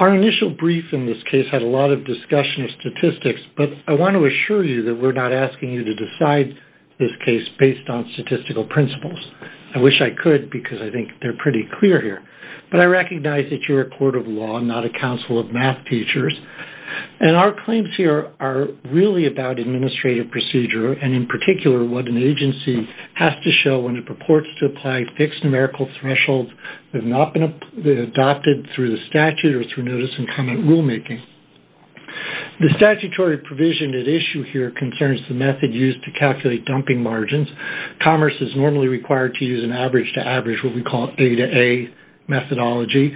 Our initial brief in this case had a lot of discussion of statistics, but I want to assure you that we're not asking you to decide this case based on statistical principles. I wish I could, because I think they're pretty clear here, but I recognize that you're a member of law, not a council of math teachers. Our claims here are really about administrative procedure, and in particular, what an agency has to show when it purports to apply fixed numerical thresholds that have not been adopted through the statute or through notice and comment rulemaking. The statutory provision at issue here concerns the method used to calculate dumping margins. Commerce is normally required to use an average-to-average, what we call A-to-A methodology,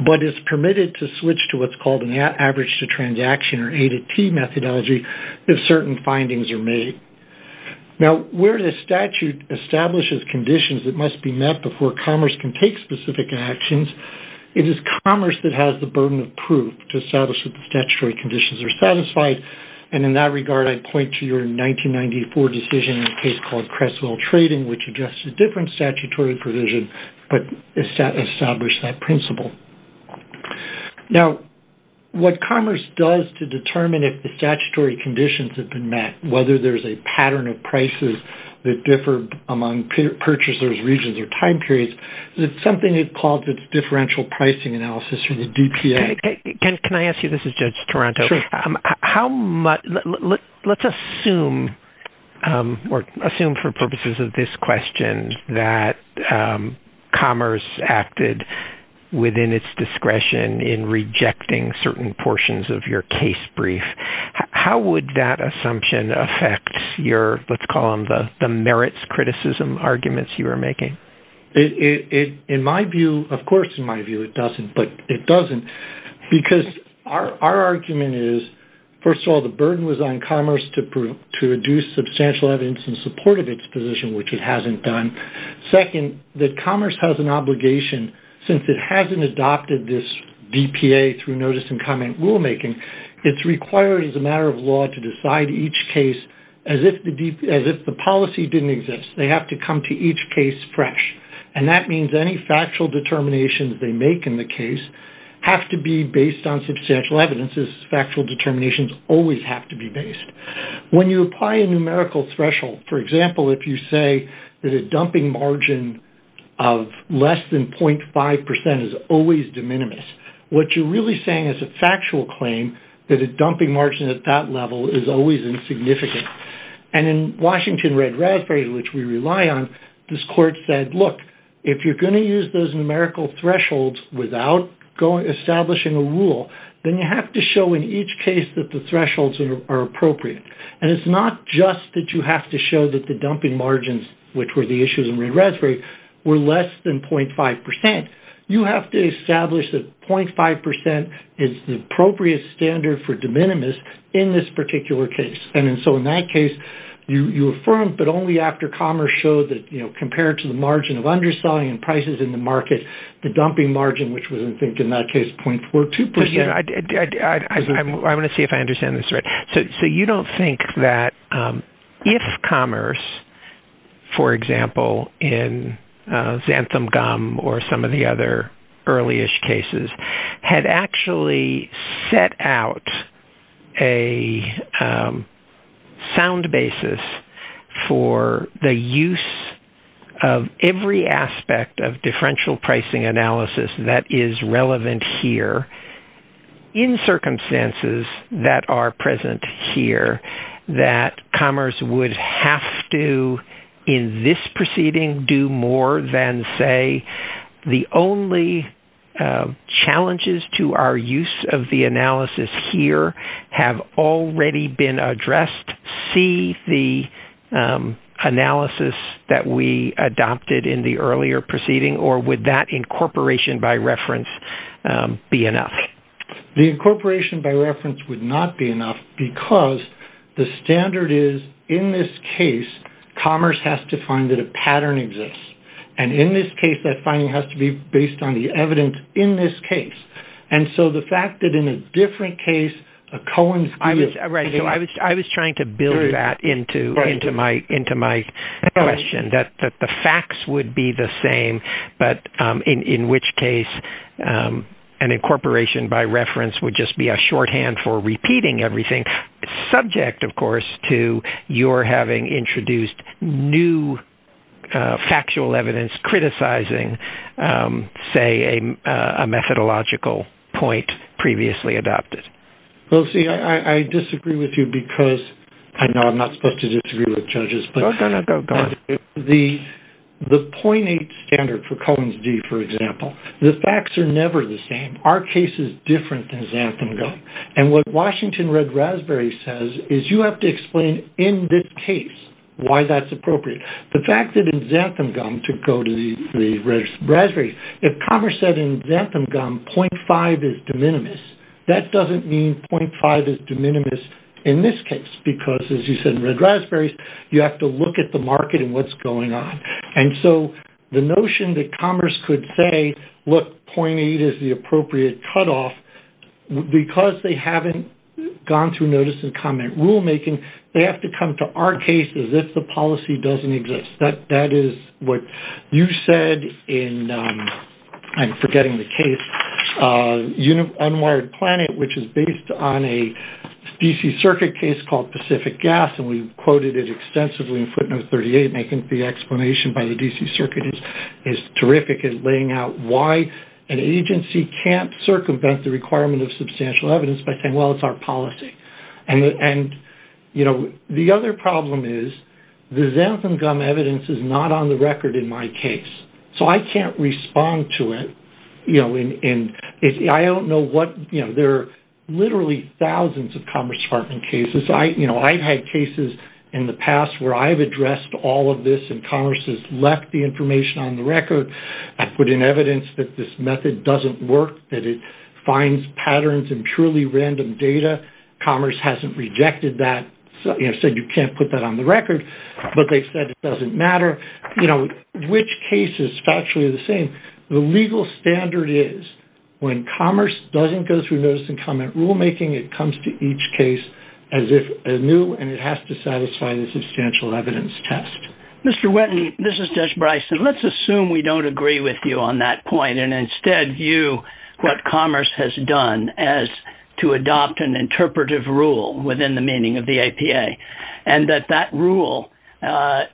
but it's permitted to switch to what's called an average-to-transaction, or A-to-T methodology, if certain findings are made. Now, where the statute establishes conditions that must be met before commerce can take specific actions, it is commerce that has the burden of proof to establish that the statutory conditions are satisfied, and in that regard, I point to your 1994 decision in a case called Cresswell Trading, which addressed a different statutory provision, but established that principle. Now, what commerce does to determine if the statutory conditions have been met, whether there's a pattern of prices that differ among purchasers, regions, or time periods, it's something that's called the differential pricing analysis, or the DPA. Can I ask you, this is Judge Toronto. How much, let's assume, or assume for purposes of this question, that commerce acted within its discretion in rejecting certain portions of your case brief. How would that assumption affect your, let's call them the merits criticism arguments you are making? It, in my view, of course, in my view, it doesn't, but it doesn't, because our argument is, first of all, the burden was on commerce to reduce substantial evidence in support of its position, which it hasn't done. Second, that commerce has an obligation, since it hasn't adopted this DPA through notice and comment rulemaking, it's required as a matter of law to decide each case as if the policy didn't exist. They have to come to each case fresh. And that means any factual determinations they make in the case have to be based on substantial evidence, as factual determinations always have to be based. When you apply a numerical threshold, for example, if you say that a dumping margin of less than 0.5% is always de minimis, what you're really saying is a factual claim that a dumping margin at that level is always insignificant. And in Washington Red Raspberry, which we rely on, this court said, look, if you're going to use those numerical thresholds without establishing a rule, then you have to show in each case that the thresholds are appropriate. And it's not just that you have to show that the dumping margins, which were the issues in Red Raspberry, were less than 0.5%. You have to establish that 0.5% is the appropriate standard for de minimis in this particular case. And so in that case, you affirm, but only after commerce showed that compared to the margin of underselling and prices in the market, the dumping margin, which was, I think, in that case, 0.42%. But I want to see if I understand this right. So you don't think that if commerce, for example, in Xantham-Gum or some of the other early-ish cases, had actually set out a sound basis for the use of every aspect of differential pricing analysis that is relevant here in circumstances that are present here, that commerce would have to, in this proceeding, do more than, say, the only challenges to our use of the analysis here have already been addressed? See the analysis that we adopted in the earlier proceeding, or would that incorporation by reference be enough? The incorporation by reference would not be enough because the standard is, in this case, commerce has to find that a pattern exists. And in this case, that finding has to be based on the evidence in this case. And so the fact that in a different case, a Cohen's deal... I was trying to build that into my question, that the facts would be the same, but in which case an incorporation by reference would just be a shorthand for repeating everything, subject, of course, to your having introduced new factual evidence criticizing, say, a methodological point previously adopted. Well, see, I disagree with you because... I know I'm not supposed to disagree with judges, but... No, no, no, go on. The 0.8 standard for Cohen's deal, for example, the facts are never the same. Our case is different than Xantham Gum. And what Washington Red Raspberry says is you have to explain in this case why that's The fact that in Xantham Gum, to go to the Raspberry, if commerce said in Xantham Gum, 0.5 is de minimis, that doesn't mean 0.5 is de minimis in this case because, as you said in Red Raspberries, you have to look at the market and what's going on. And so the notion that commerce could say, look, 0.8 is the appropriate cutoff, because they haven't gone through notice and comment rulemaking, they have to come to our case as if the policy doesn't exist. That is what you said in, I'm forgetting the case, Unwired Planet, which is based on a DC Circuit case called Pacific Gas, and we've quoted it extensively in footnote 38, making the explanation by the DC Circuit is terrific at laying out why an agency can't circumvent the requirement of substantial evidence by saying, well, it's our policy. And the other problem is the Xantham Gum evidence is not on the record in my case. So I can't respond to it. And I don't know what, there are literally thousands of Commerce Department cases. I've had cases in the past where I've addressed all of this and Commerce has left the information on the record. I've put in evidence that this method doesn't work, that it finds patterns in purely random data. Commerce hasn't rejected that, said you can't put that on the record, but they've said it doesn't matter. Which cases are actually the same? The legal standard is when Commerce doesn't go through notice and comment rulemaking, it comes to each case as if a new, and it has to satisfy the substantial evidence test. Mr. Whetton, this is Judge Bryson. Let's assume we don't agree with you on that point and instead view what Commerce has done as to adopt an interpretive rule within the meaning of the APA, and that that rule can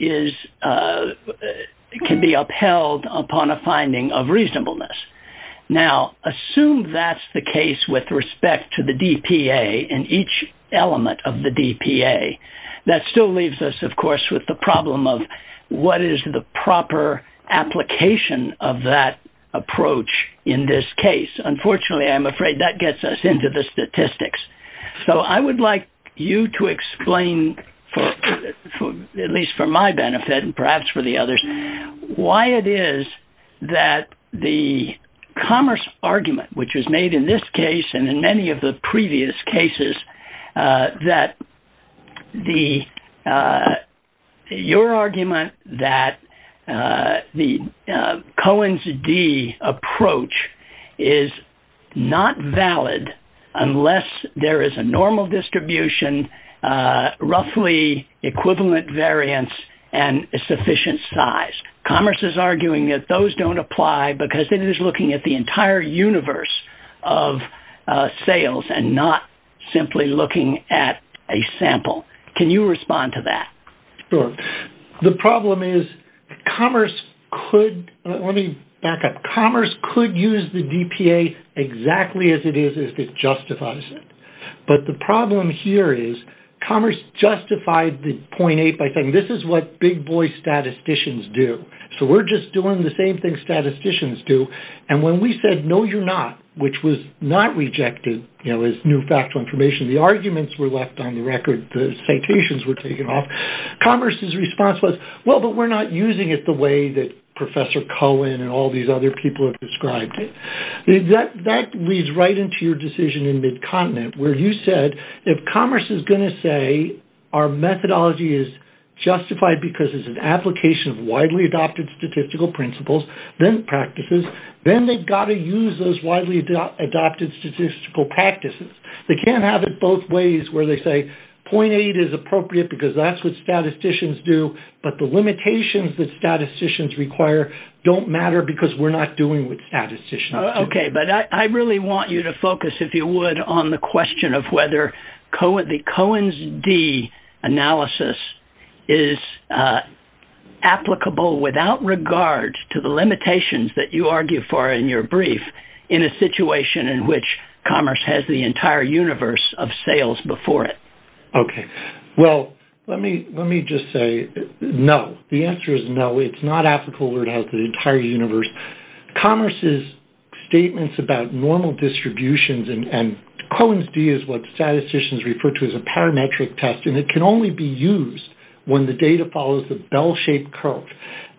be upheld upon a finding of reasonableness. Now, assume that's the case with respect to the DPA and each element of the DPA, that still leaves us, of course, with the problem of what is the proper application of that approach in this case? Unfortunately, I'm afraid that gets us into the statistics. So I would like you to explain, at least for my benefit and perhaps for the others, why it is that the Commerce argument, which was made in this case and in many of the previous cases, that your argument that the Cohen's D approach is not valid unless there is a normal distribution, roughly equivalent variance, and a sufficient size. Commerce is arguing that those don't apply because it is looking at the entire universe of sales and not simply looking at a sample. Can you respond to that? Sure. The problem is Commerce could, let me back up, Commerce could use the DPA exactly as it is if it justifies it. But the problem here is Commerce justified the 0.8 by saying, this is what big boy statisticians do. So we're just doing the same thing statisticians do. And when we said, no, you're not, which was not rejected as new factual information, the arguments were left on the record. The citations were taken off. Commerce's response was, well, but we're not using it the way that Professor Cohen and all these other people have described it. That leads right into your decision in Midcontinent where you said, if Commerce is going to say our methodology is justified because it's an application of widely adopted statistical principles, then practices, then they've got to use those widely adopted statistical practices. They can't have it both ways where they say 0.8 is appropriate because that's what statisticians do. But the limitations that statisticians require don't matter because we're not doing what statisticians do. OK, but I really want you to focus, if you would, on the question of whether the Cohen's analysis is applicable without regard to the limitations that you argue for in your brief in a situation in which Commerce has the entire universe of sales before it. OK, well, let me just say no. The answer is no. It's not applicable where it has the entire universe. Commerce's statements about normal distributions and Cohen's d is what statisticians refer to as a parametric test, and it can only be used when the data follows the bell-shaped curve.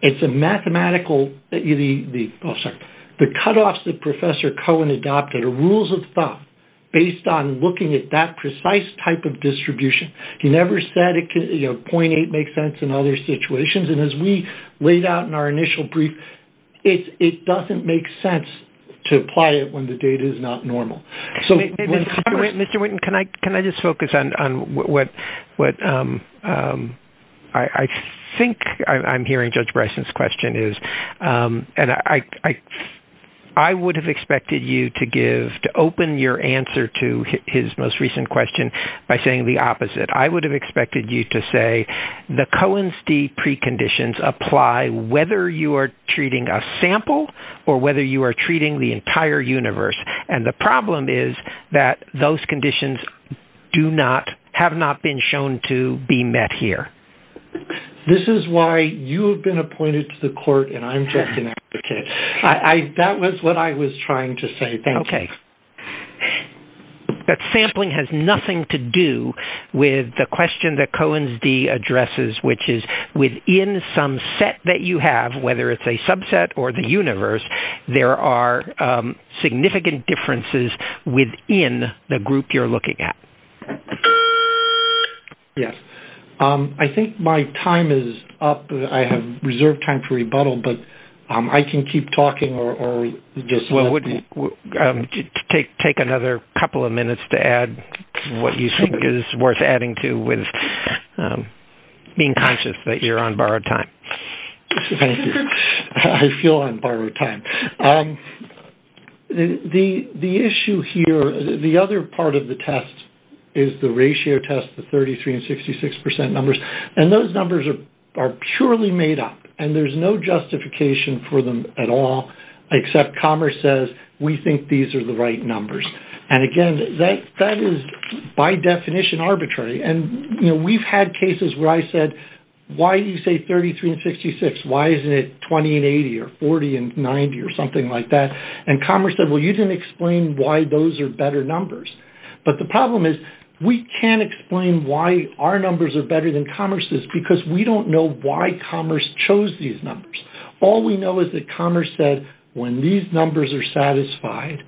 It's a mathematical—oh, sorry. The cutoffs that Professor Cohen adopted are rules of thumb based on looking at that precise type of distribution. He never said 0.8 makes sense in other situations, and as we laid out in our initial brief, it doesn't make sense to apply it when the data is not normal. So, Mr. Winton, can I just focus on what I think I'm hearing Judge Bryson's question is, and I would have expected you to give—to open your answer to his most recent question by saying the opposite. I would have expected you to say the Cohen's d preconditions apply whether you are treating a sample or whether you are treating the entire universe, and the problem is that those conditions do not—have not been shown to be met here. This is why you have been appointed to the court, and I'm just an advocate. That was what I was trying to say. Okay, but sampling has nothing to do with the question that Cohen's d addresses, which is within some set that you have, whether it's a subset or the universe, there are significant differences within the group you're looking at. Yes. I think my time is up. I have reserved time for rebuttal, but I can keep talking or just— Well, it would take another couple of minutes to add what you think is worth adding to with being conscious that you're on borrowed time. Thank you. I feel on borrowed time. The issue here—the other part of the test is the ratio test, the 33 and 66 percent numbers, and those numbers are purely made up, and there's no justification for them at all, except Commerce says, we think these are the right numbers. Again, that is by definition arbitrary. We've had cases where I said, why do you say 33 and 66? Why isn't it 20 and 80 or 40 and 90 or something like that? Commerce said, well, you didn't explain why those are better numbers. But the problem is, we can't explain why our numbers are better than Commerce's because we don't know why Commerce chose these numbers. All we know is that Commerce said, when these numbers are satisfied,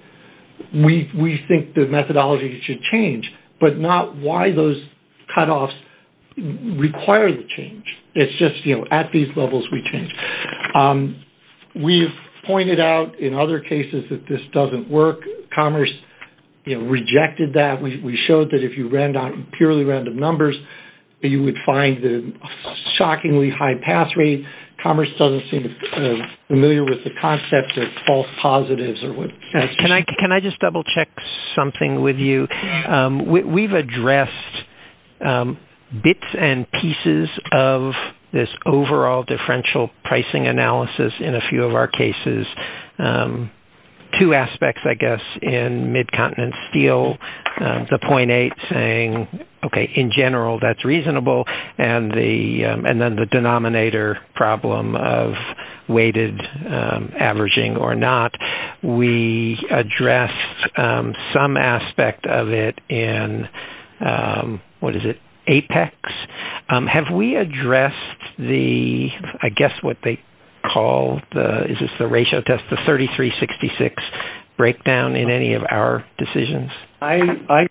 we think the methodology should change, but not why those cutoffs require the change. It's just, at these levels, we change. We've pointed out in other cases that this doesn't work. Commerce rejected that. We showed that if you ran down purely random numbers, you would find a shockingly high pass rate. Commerce doesn't seem familiar with the concept of false positives. Can I just double check something with you? We've addressed bits and pieces of this overall differential pricing analysis in a few of our cases, two aspects, I guess, in mid-continent steel, the 0.8 saying, OK, in general, that's problem of weighted averaging or not. We addressed some aspect of it in, what is it, Apex. Have we addressed the, I guess what they call, is this the ratio test, the 33-66 breakdown in any of our decisions? I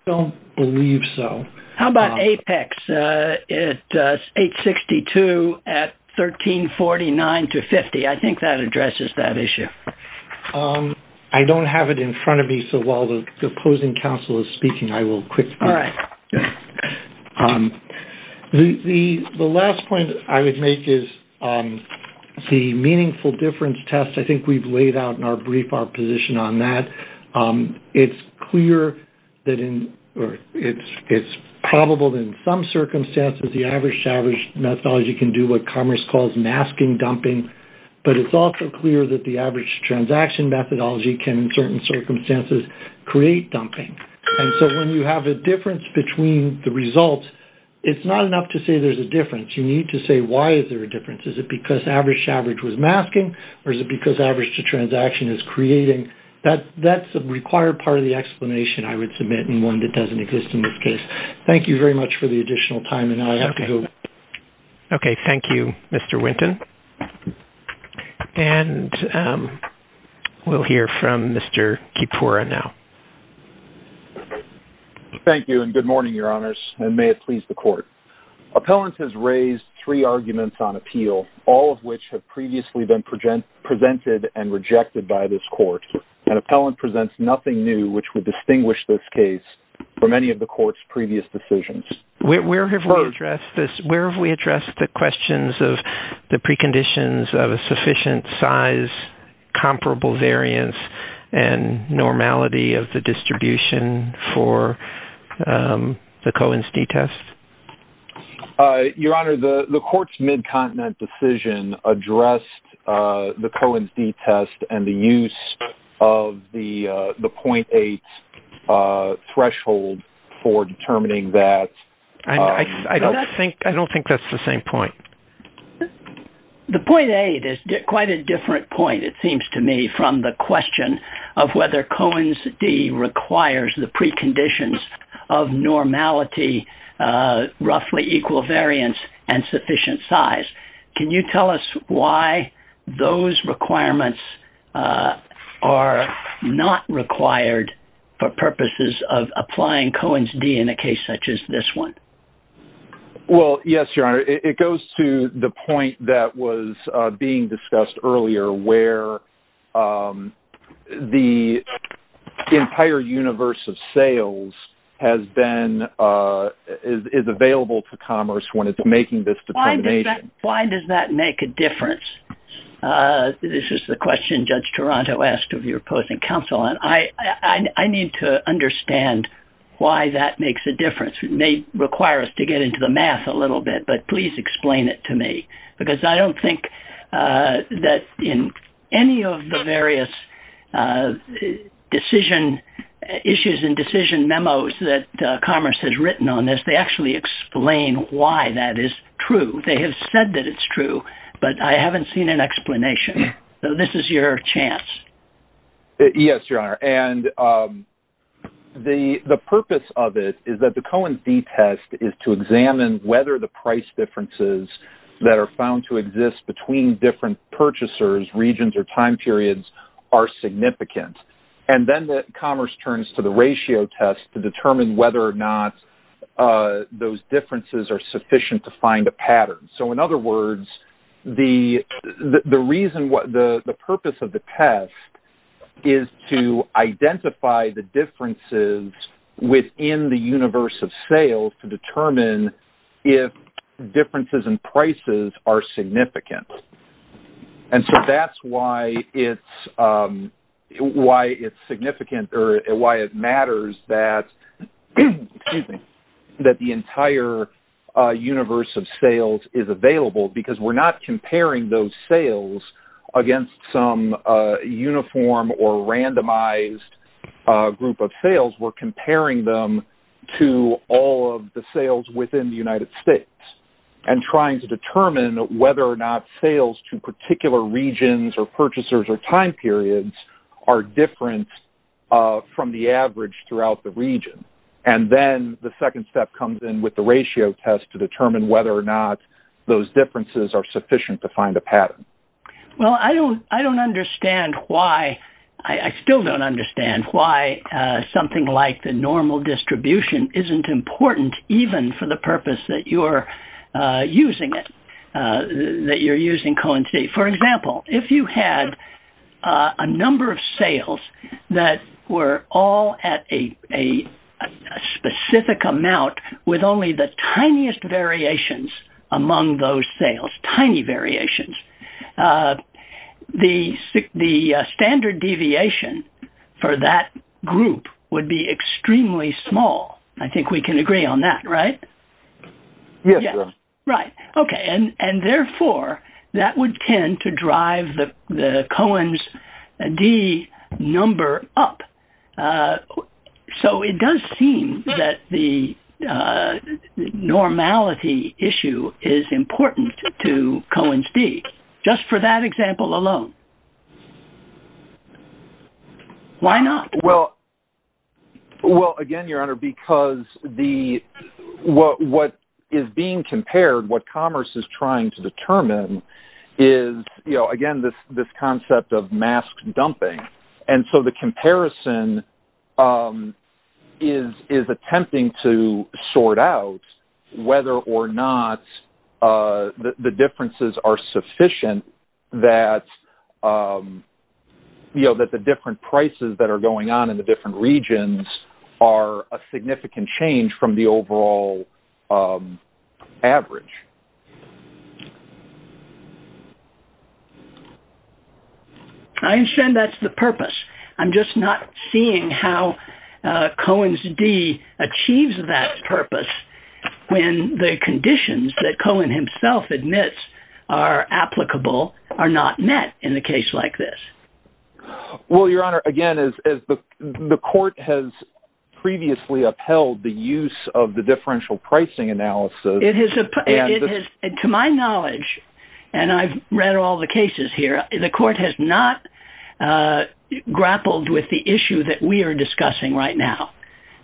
don't believe so. How about Apex? It's 862 at 1349 to 50. I think that addresses that issue. I don't have it in front of me, so while the opposing counsel is speaking, I will quickly. All right. The last point I would make is the meaningful difference test. I think we've laid out in our brief our position on that. It's clear that in, or it's probable in some circumstances, the average-to-average methodology can do what Commerce calls masking dumping. But it's also clear that the average-to-transaction methodology can, in certain circumstances, create dumping. And so when you have a difference between the results, it's not enough to say there's a difference. You need to say, why is there a difference? Is it because average-to-average was masking, or is it because average-to-transaction is creating? That's a required part of the explanation, I would submit, and one that doesn't exist in this case. Thank you very much for the additional time. And now I have to go. Okay. Thank you, Mr. Winton. And we'll hear from Mr. Kipura now. Thank you, and good morning, Your Honors, and may it please the Court. Appellants has raised three arguments on appeal, all of which have previously been presented and rejected by this Court. An appellant presents nothing new which would distinguish this case from any of the Court's previous decisions. Where have we addressed the questions of the preconditions of a sufficient size, comparable variance, and normality of the distribution for the Cohen's d-test? Your Honor, the Court's mid-continent decision addressed the Cohen's d-test and the use of the 0.8 threshold for determining that. I don't think that's the same point. The 0.8 is quite a different point, it seems to me, from the question of whether Cohen's d requires the preconditions of normality, roughly equal variance, and sufficient size. Can you tell us why those requirements are not required for purposes of applying Cohen's d in a case such as this one? Well, yes, Your Honor. It goes to the point that was being discussed earlier where the entire universe of sales is available to commerce when it's making this determination. Why does that make a difference? This is the question Judge Toronto asked of your opposing counsel, and I need to understand why that makes a difference. It may require us to get into the math a little bit, but please explain it to me, because I don't think that in any of the various decision issues and decision memos that commerce has written on this, they actually explain why that is true. They have said that it's true, but I haven't seen an explanation. So this is your chance. Yes, Your Honor. And the purpose of it is that the Cohen's d test is to examine whether the price differences that are found to exist between different purchasers, regions, or time periods are significant. And then commerce turns to the ratio test to determine whether or not those differences are sufficient to find a pattern. So in other words, the purpose of the test is to identify the differences within the universe of sales to determine if differences in prices are significant. And so that's why it's significant or why it matters that the entire universe of sales is available, because we're not comparing those sales against some uniform or randomized group of sales. We're comparing them to all of the sales within the United States and trying to determine whether or not sales to particular regions or purchasers or time periods are different from the average throughout the region. And then the second step comes in with the ratio test to determine whether or not those differences are sufficient to find a pattern. Well, I don't understand why, I still don't understand why something like the normal distribution isn't important, even for the purpose that you're using it, that you're using Cohen-Sea. For example, if you had a number of sales that were all at a specific amount with only the tiniest variations among those sales, tiny variations, the standard deviation for that group would be extremely small. I think we can agree on that, right? Yes, sir. Right. Okay. And therefore, that would tend to drive the Cohen's d number up. So it does seem that the normality issue is important to Cohen's d, just for that example alone. Why not? Well, again, Your Honor, because what is being compared, what commerce is trying to determine is, again, this concept of mask dumping. And so the comparison is attempting to sort out whether or not the differences are sufficient that the different prices that are going on in the different regions are a significant change from the overall average. I understand that's the purpose. I'm just not seeing how Cohen's d achieves that purpose when the conditions that Cohen himself admits are applicable are not met in a case like this. Well, Your Honor, again, the court has previously upheld the use of the differential pricing analysis. To my knowledge, and I've read all the cases here, the court has not grappled with the issue that we are discussing right now.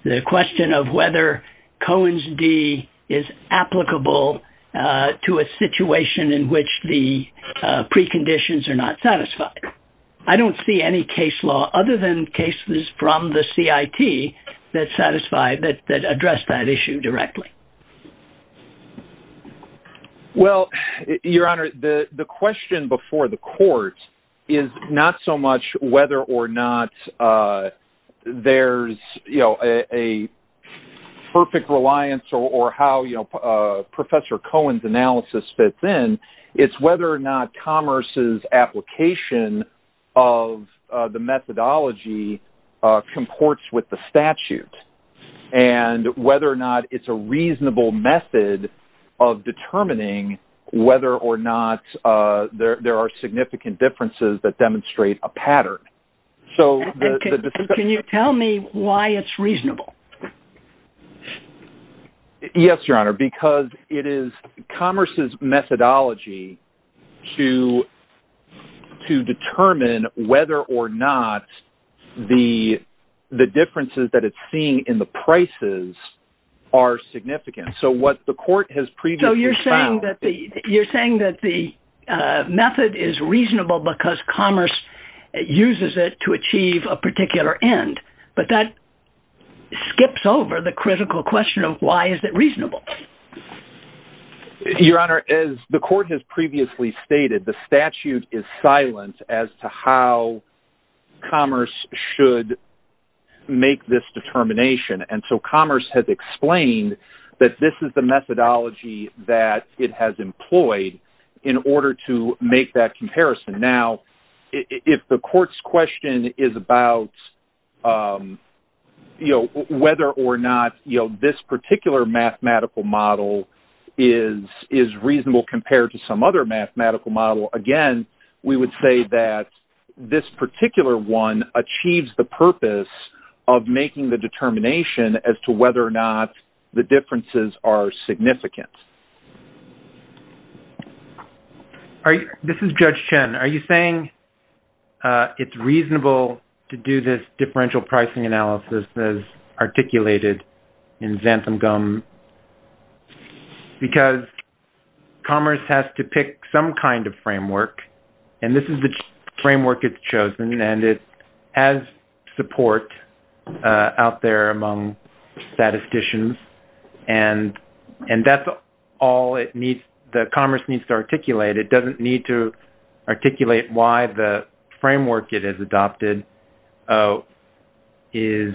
The question of whether Cohen's d is applicable to a situation in which the preconditions are not satisfied. I don't see any case law other than cases from the CIT that address that issue directly. Well, Your Honor, the question before the court is not so much whether or not there's a perfect reliance or how Professor Cohen's analysis fits in. It's whether or not commerce's application of the methodology comports with the statute and whether or not it's a reasonable method of determining whether or not there are significant differences that demonstrate a pattern. So can you tell me why it's reasonable? Yes, Your Honor, because it is commerce's methodology to to determine whether or not the the differences that it's seeing in the prices are significant. So what the court has previously, so you're saying that the you're saying that the method is reasonable because commerce uses it to achieve a particular end. But that skips over the critical question of why is it reasonable? Your Honor, as the court has previously stated, the statute is silent as to how commerce should make this determination. And so commerce has explained that this is the methodology that it has employed in order to make that comparison. Now, if the court's question is about, you know, whether or not, you know, this particular mathematical model is is reasonable compared to some other mathematical model, again, we would say that this particular one achieves the purpose of making the determination as to whether or not the differences are significant. This is Judge Chen. Are you saying it's reasonable to do this differential pricing analysis as articulated in Xantham-Gum because commerce has to pick some kind of framework and this is the framework it's chosen and it has support out there among statisticians and and that's all it needs. The commerce needs to articulate. It doesn't need to articulate why the framework it has adopted is,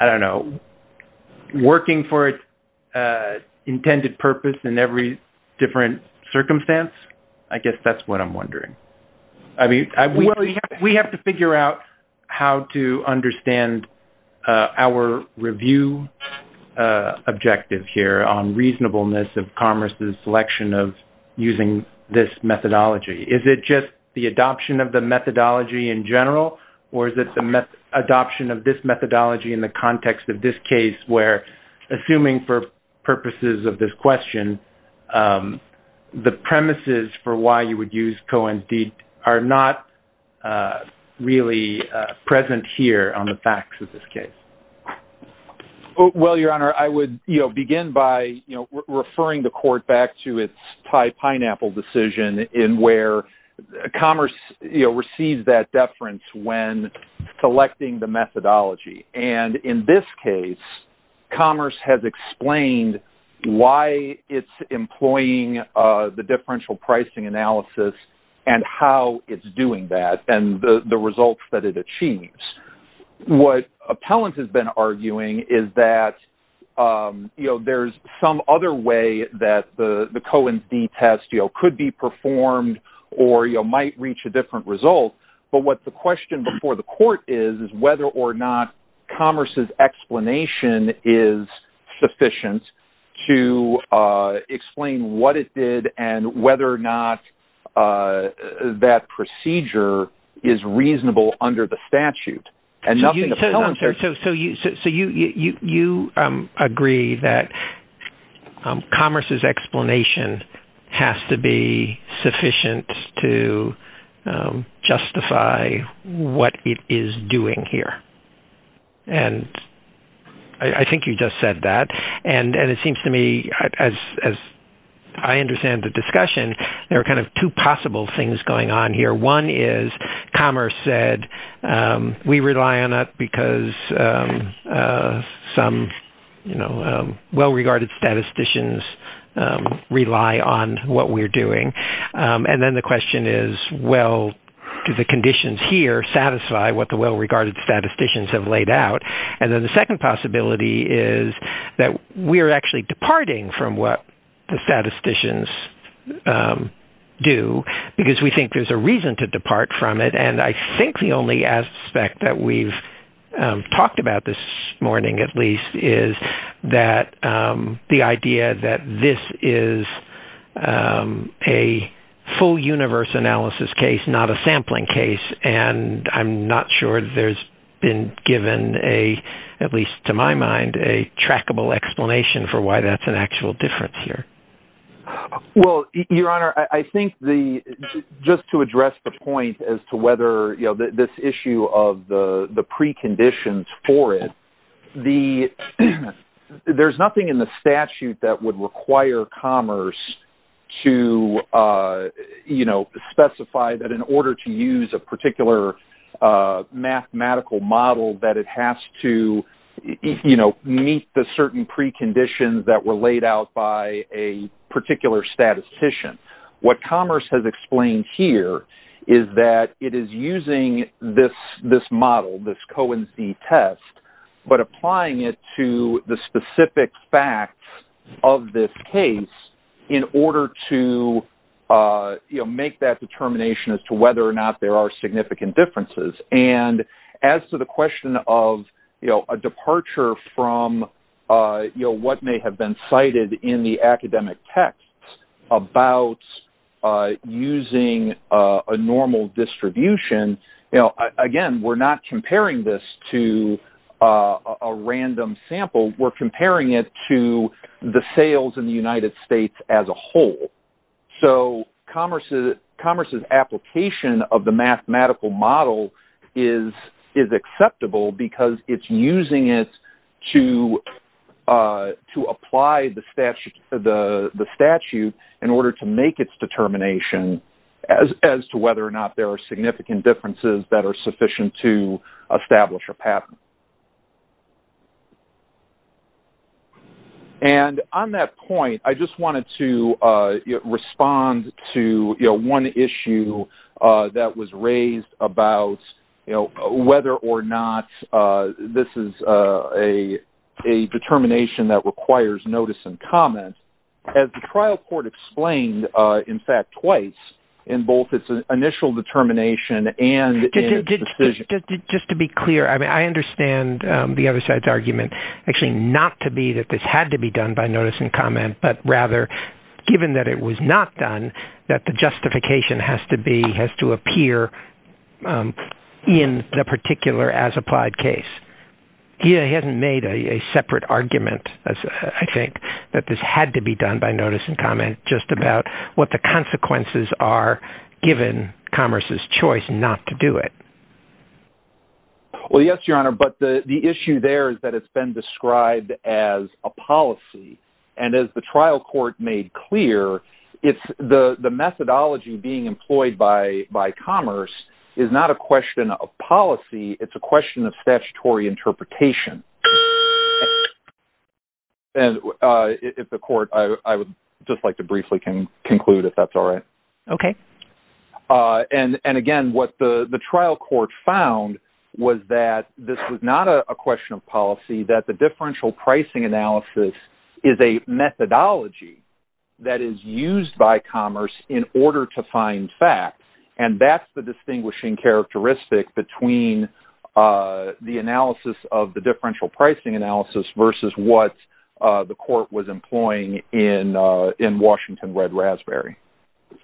I don't know, working for its intended purpose in every different circumstance. I guess that's what I'm wondering. I mean, we have to figure out how to understand our review objective here on reasonableness of commerce's selection of using this methodology. Is it just the adoption of the methodology in general or is it the adoption of this methodology in the context of this case where, assuming for purposes of this question, the premises for why you would use Cohen's deed are not really present here on the facts of this case? Well, Your Honor, I would begin by referring the court back to its Thai pineapple decision in where commerce receives that deference when selecting the methodology. And in this case, commerce has explained why it's employing the differential pricing analysis and how it's doing that and the results that it achieves. What appellant has been arguing is that there's some other way that the Cohen's deed test could be performed or might reach a different result. But what the question before the court is, is whether or not commerce's explanation is sufficient to explain what it did and whether or not that procedure is reasonable under the statute. So you agree that commerce's explanation has to be sufficient to justify what it is doing here. And I think you just said that. And it seems to me, as I understand the discussion, there are kind of two possible things going on here. One is commerce said, we rely on it because some well-regarded statisticians rely on what we're doing. And then the question is, well, do the conditions here satisfy what the well-regarded statisticians have laid out? And then the second possibility is that we're actually departing from what the statisticians do because we think there's a reason to depart from it. And I think the only aspect that we've talked about this morning, at least, is that the full universe analysis case, not a sampling case. And I'm not sure there's been given a, at least to my mind, a trackable explanation for why that's an actual difference here. Well, Your Honor, I think just to address the point as to whether this issue of the preconditions for it, there's nothing in the statute that would require commerce to specify that in order to use a particular mathematical model, that it has to meet the certain preconditions that were laid out by a particular statistician. What commerce has explained here is that it is using this model, this Cohen-Z test, but specific facts of this case in order to make that determination as to whether or not there are significant differences. And as to the question of a departure from what may have been cited in the academic text about using a normal distribution, again, we're not comparing this to a random sample. We're comparing it to the sales in the United States as a whole. So commerce's application of the mathematical model is acceptable because it's using it to apply the statute in order to make its determination as to whether or not there are significant differences that are sufficient to establish a pattern. And on that point, I just wanted to respond to one issue that was raised about whether or not this is a determination that requires notice and comment. As the trial court explained, in fact, twice, in both its initial determination and its decision... not to be that this had to be done by notice and comment, but rather, given that it was not done, that the justification has to appear in the particular as-applied case. He hasn't made a separate argument, I think, that this had to be done by notice and comment just about what the consequences are given commerce's choice not to do it. Well, yes, Your Honor, but the issue there is that it's been described as a policy. And as the trial court made clear, it's the methodology being employed by commerce is not a question of policy. It's a question of statutory interpretation. And if the court... I would just like to briefly conclude, if that's all right. Okay. And again, what the trial court found was that this was not a question of policy, that the differential pricing analysis is a methodology that is used by commerce in order to find facts. And that's the distinguishing characteristic between the analysis of the differential pricing analysis versus what the court was employing in Washington Red Raspberry.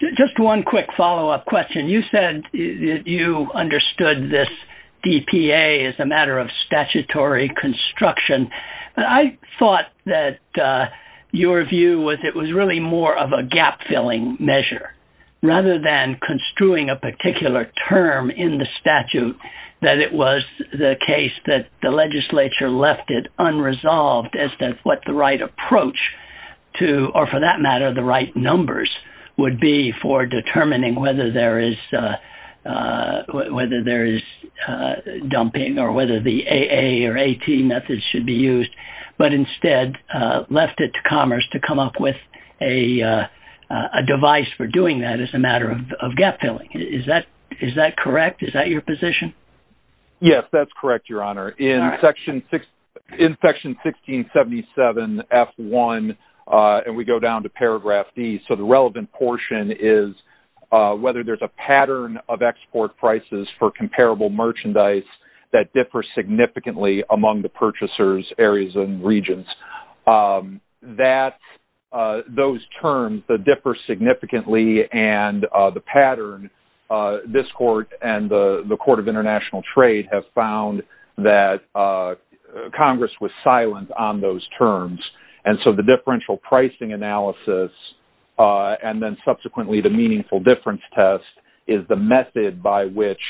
Just one quick follow-up question. You said you understood this DPA as a matter of statutory construction. I thought that your view was it was really more of a gap-filling measure, rather than construing a particular term in the statute, that it was the case that the legislature left it unresolved as to what the right approach to, or for that matter, the right numbers would be for determining whether there is dumping or whether the AA or AT methods should be used, but instead left it to commerce to come up with a device for doing that as a matter of gap-filling. Is that correct? Is that your position? Yes, that's correct, Your Honor. In section 1677F1, and we go down to paragraph D, so the relevant portion is whether there's a pattern of export prices for comparable merchandise that differs significantly among the purchasers, areas, and regions. Those terms that differ significantly and the pattern, this court and the Court of International Trade have found that Congress was silent on those terms, and so the differential pricing analysis and then subsequently the meaningful difference test is the method by which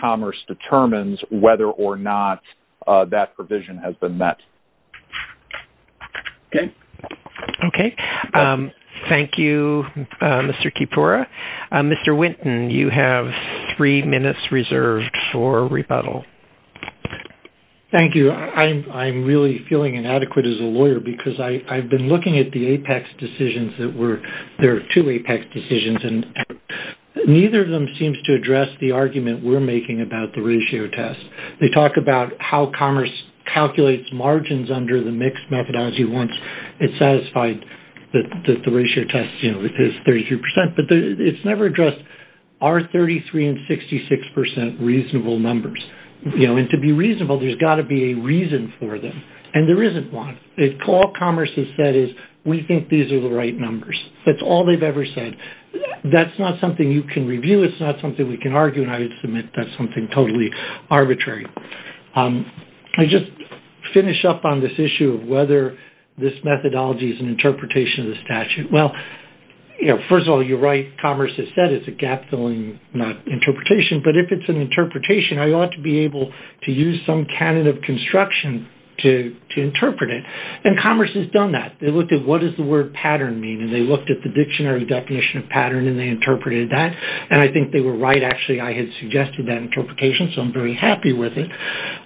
commerce determines whether or not that provision has been met. Okay. Okay. Thank you, Mr. Kipora. Mr. Winton, you have three minutes reserved for rebuttal. Thank you. I'm really feeling inadequate as a lawyer because I've been looking at the apex decisions that were, there are two apex decisions, and neither of them seems to address the argument we're making about the ratio test. They talk about how commerce calculates margins under the mixed methodology once it's satisfied that the ratio test is 33%, but it's never addressed, are 33% and 66% reasonable numbers? And to be reasonable, there's got to be a reason for them, and there isn't one. All commerce has said is, we think these are the right numbers. That's all they've ever said. That's not something you can review. It's not something we can argue, and I would submit that's something totally arbitrary. I'll just finish up on this issue of whether this methodology is an interpretation of the statute. Well, first of all, you're right. Commerce has said it's a gap-filling interpretation, but if it's an interpretation, I ought to be able to use some canon of construction to interpret it, and commerce has done that. They looked at what does the word pattern mean, and they looked at the dictionary definition of pattern, and they interpreted that, and I think they were right. I had suggested that interpretation, so I'm very happy with it,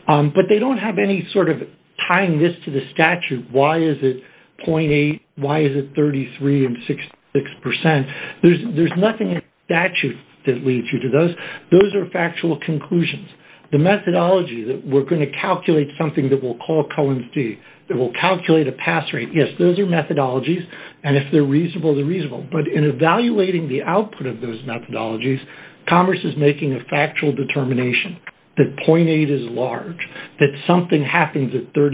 but they don't have any sort of tying this to the statute. Why is it 0.8? Why is it 33% and 66%? There's nothing in the statute that leads you to those. Those are factual conclusions. The methodology that we're going to calculate something that we'll call Cohen's d, that we'll calculate a pass rate, yes, those are methodologies, and if they're reasonable, they're reasonable. But in evaluating the output of those methodologies, commerce is making a factual determination that 0.8 is large, that something happens at 33%,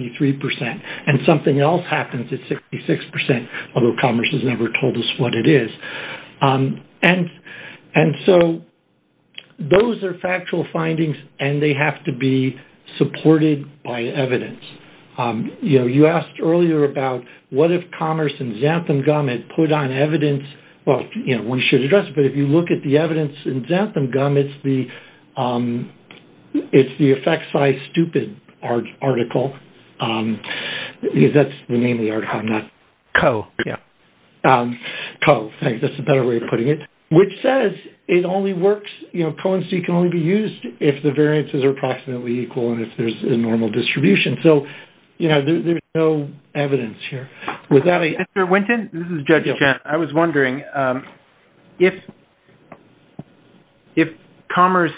and something else happens at 66%, although commerce has never told us what it is. And so those are factual findings, and they have to be supported by evidence. You know, you asked earlier about what if commerce and Xantham gum had put on evidence. Well, you know, we should address it, but if you look at the evidence in Xantham gum, it's the effect size stupid article, because that's the name of the article, not co, yeah, co, I think that's a better way of putting it, which says it only works, you know, Cohen's d can only be used if the variances are approximately equal and if there's a normal distribution. So, you know, there's no evidence here. Mr. Winton, this is Judge Chen. I was wondering if commerce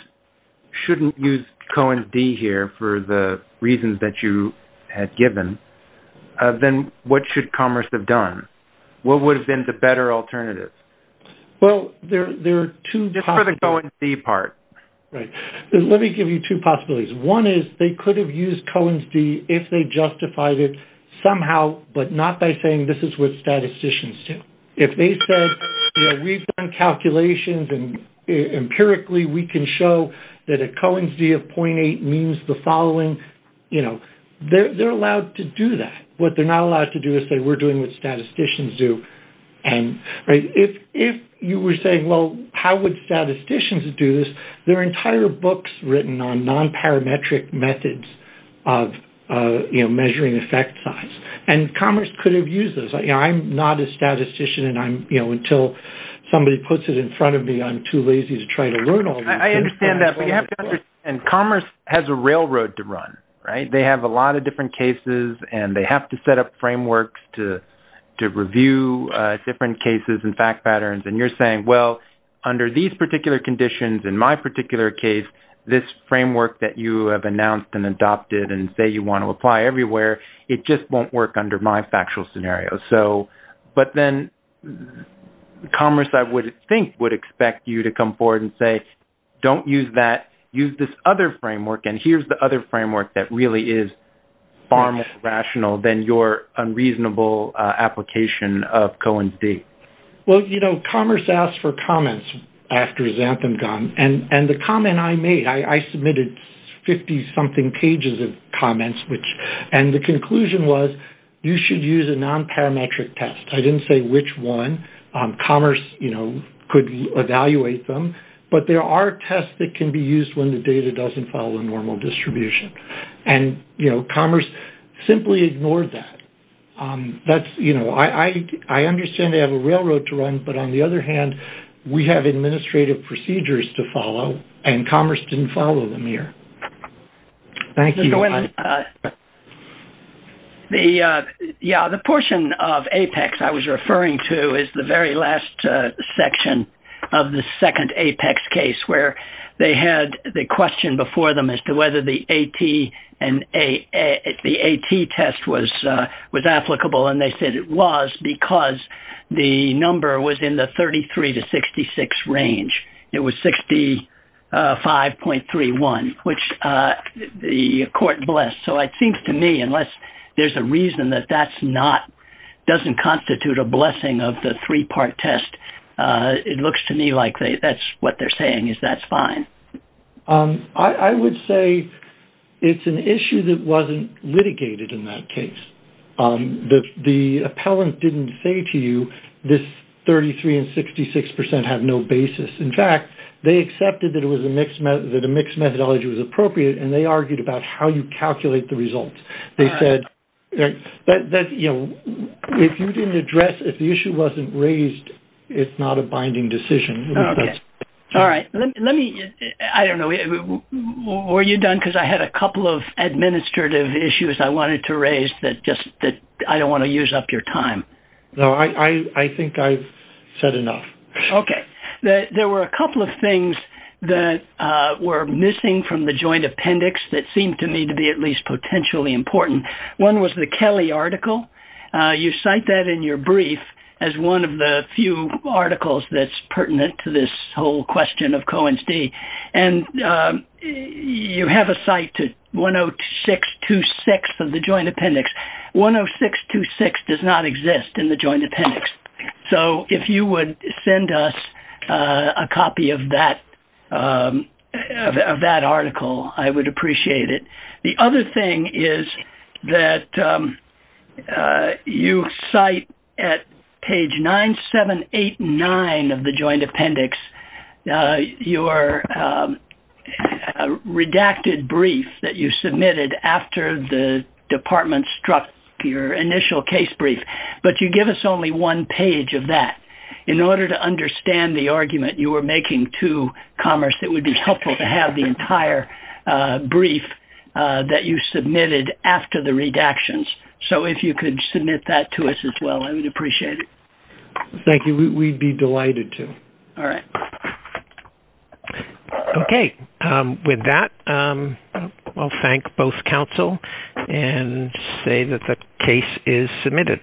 shouldn't use Cohen's d here for the reasons that you had given, then what should commerce have done? What would have been the better alternative? Well, there are two... Just for the Cohen's d part. Right. Let me give you two possibilities. One is they could have used Cohen's d if they justified it somehow, but not by saying this is what statisticians do. If they said, you know, we've done calculations and empirically we can show that a Cohen's d of 0.8 means the following, you know, they're allowed to do that. What they're not allowed to do is say we're doing what statisticians do. And if you were saying, well, how would statisticians do this? There are entire books written on nonparametric methods of measuring effect size. And commerce could have used this. I'm not a statistician and I'm, you know, until somebody puts it in front of me, I'm too lazy to try to learn all this. I understand that. But you have to understand commerce has a railroad to run, right? They have a lot of different cases and they have to set up frameworks to review different cases and fact patterns. And you're saying, well, under these particular conditions, in my particular case, this framework that you have announced and adopted and say you want to apply everywhere, it just won't work under my factual scenario. So, but then commerce, I would think would expect you to come forward and say, don't use that. Use this other framework. And here's the other framework that really is far more rational than your unreasonable application of Cohen's d. Well, you know, commerce asked for comments after Xanthan gone. And the comment I made, I submitted 50 something pages of comments, which, and the conclusion was you should use a nonparametric test. I didn't say which one. Commerce, you know, could evaluate them. But there are tests that can be used when the data doesn't follow normal distribution. And, you know, commerce simply ignored that. That's, you know, I understand they have a railroad to run. But on the other hand, we have administrative procedures to follow. And commerce didn't follow them here. Thank you. The, yeah, the portion of APEX I was referring to is the very last section of the second APEX case where they had the question before them as to whether the AT and the AT test was applicable. And they said it was because the number was in the 33 to 66 range. It was 65.31, which the court blessed. So it seems to me, unless there's a reason that that's not, doesn't constitute a blessing of the three part test. It looks to me like that's what they're saying is that's fine. I would say it's an issue that wasn't litigated in that case. The appellant didn't say to you this 33 and 66 percent have no basis. In fact, they accepted that a mixed methodology was appropriate. And they argued about how you calculate the results. They said that, you know, if you didn't address, if the issue wasn't raised, it's not a binding decision. All right. Let me, I don't know, were you done? Because I had a couple of administrative issues I wanted to raise that just that I don't want to use up your time. No, I think I've said enough. Okay. There were a couple of things that were missing from the joint appendix that seemed to me to be at least potentially important. One was the Kelly article. You cite that in your brief as one of the few articles that's pertinent to this whole question of Cohen's D. And you have a cite to 10626 of the joint appendix. 10626 does not exist in the joint appendix. So if you would send us a copy of that article, I would appreciate it. The other thing is that you cite at page 9789 of the joint appendix, your redacted brief that you submitted after the department struck your initial case brief. But you give us only one page of that in order to understand the argument you were making to it would be helpful to have the entire brief that you submitted after the redactions. So if you could submit that to us as well, I would appreciate it. Thank you. We'd be delighted to. All right. Okay. With that, I'll thank both counsel and say that the case is submitted.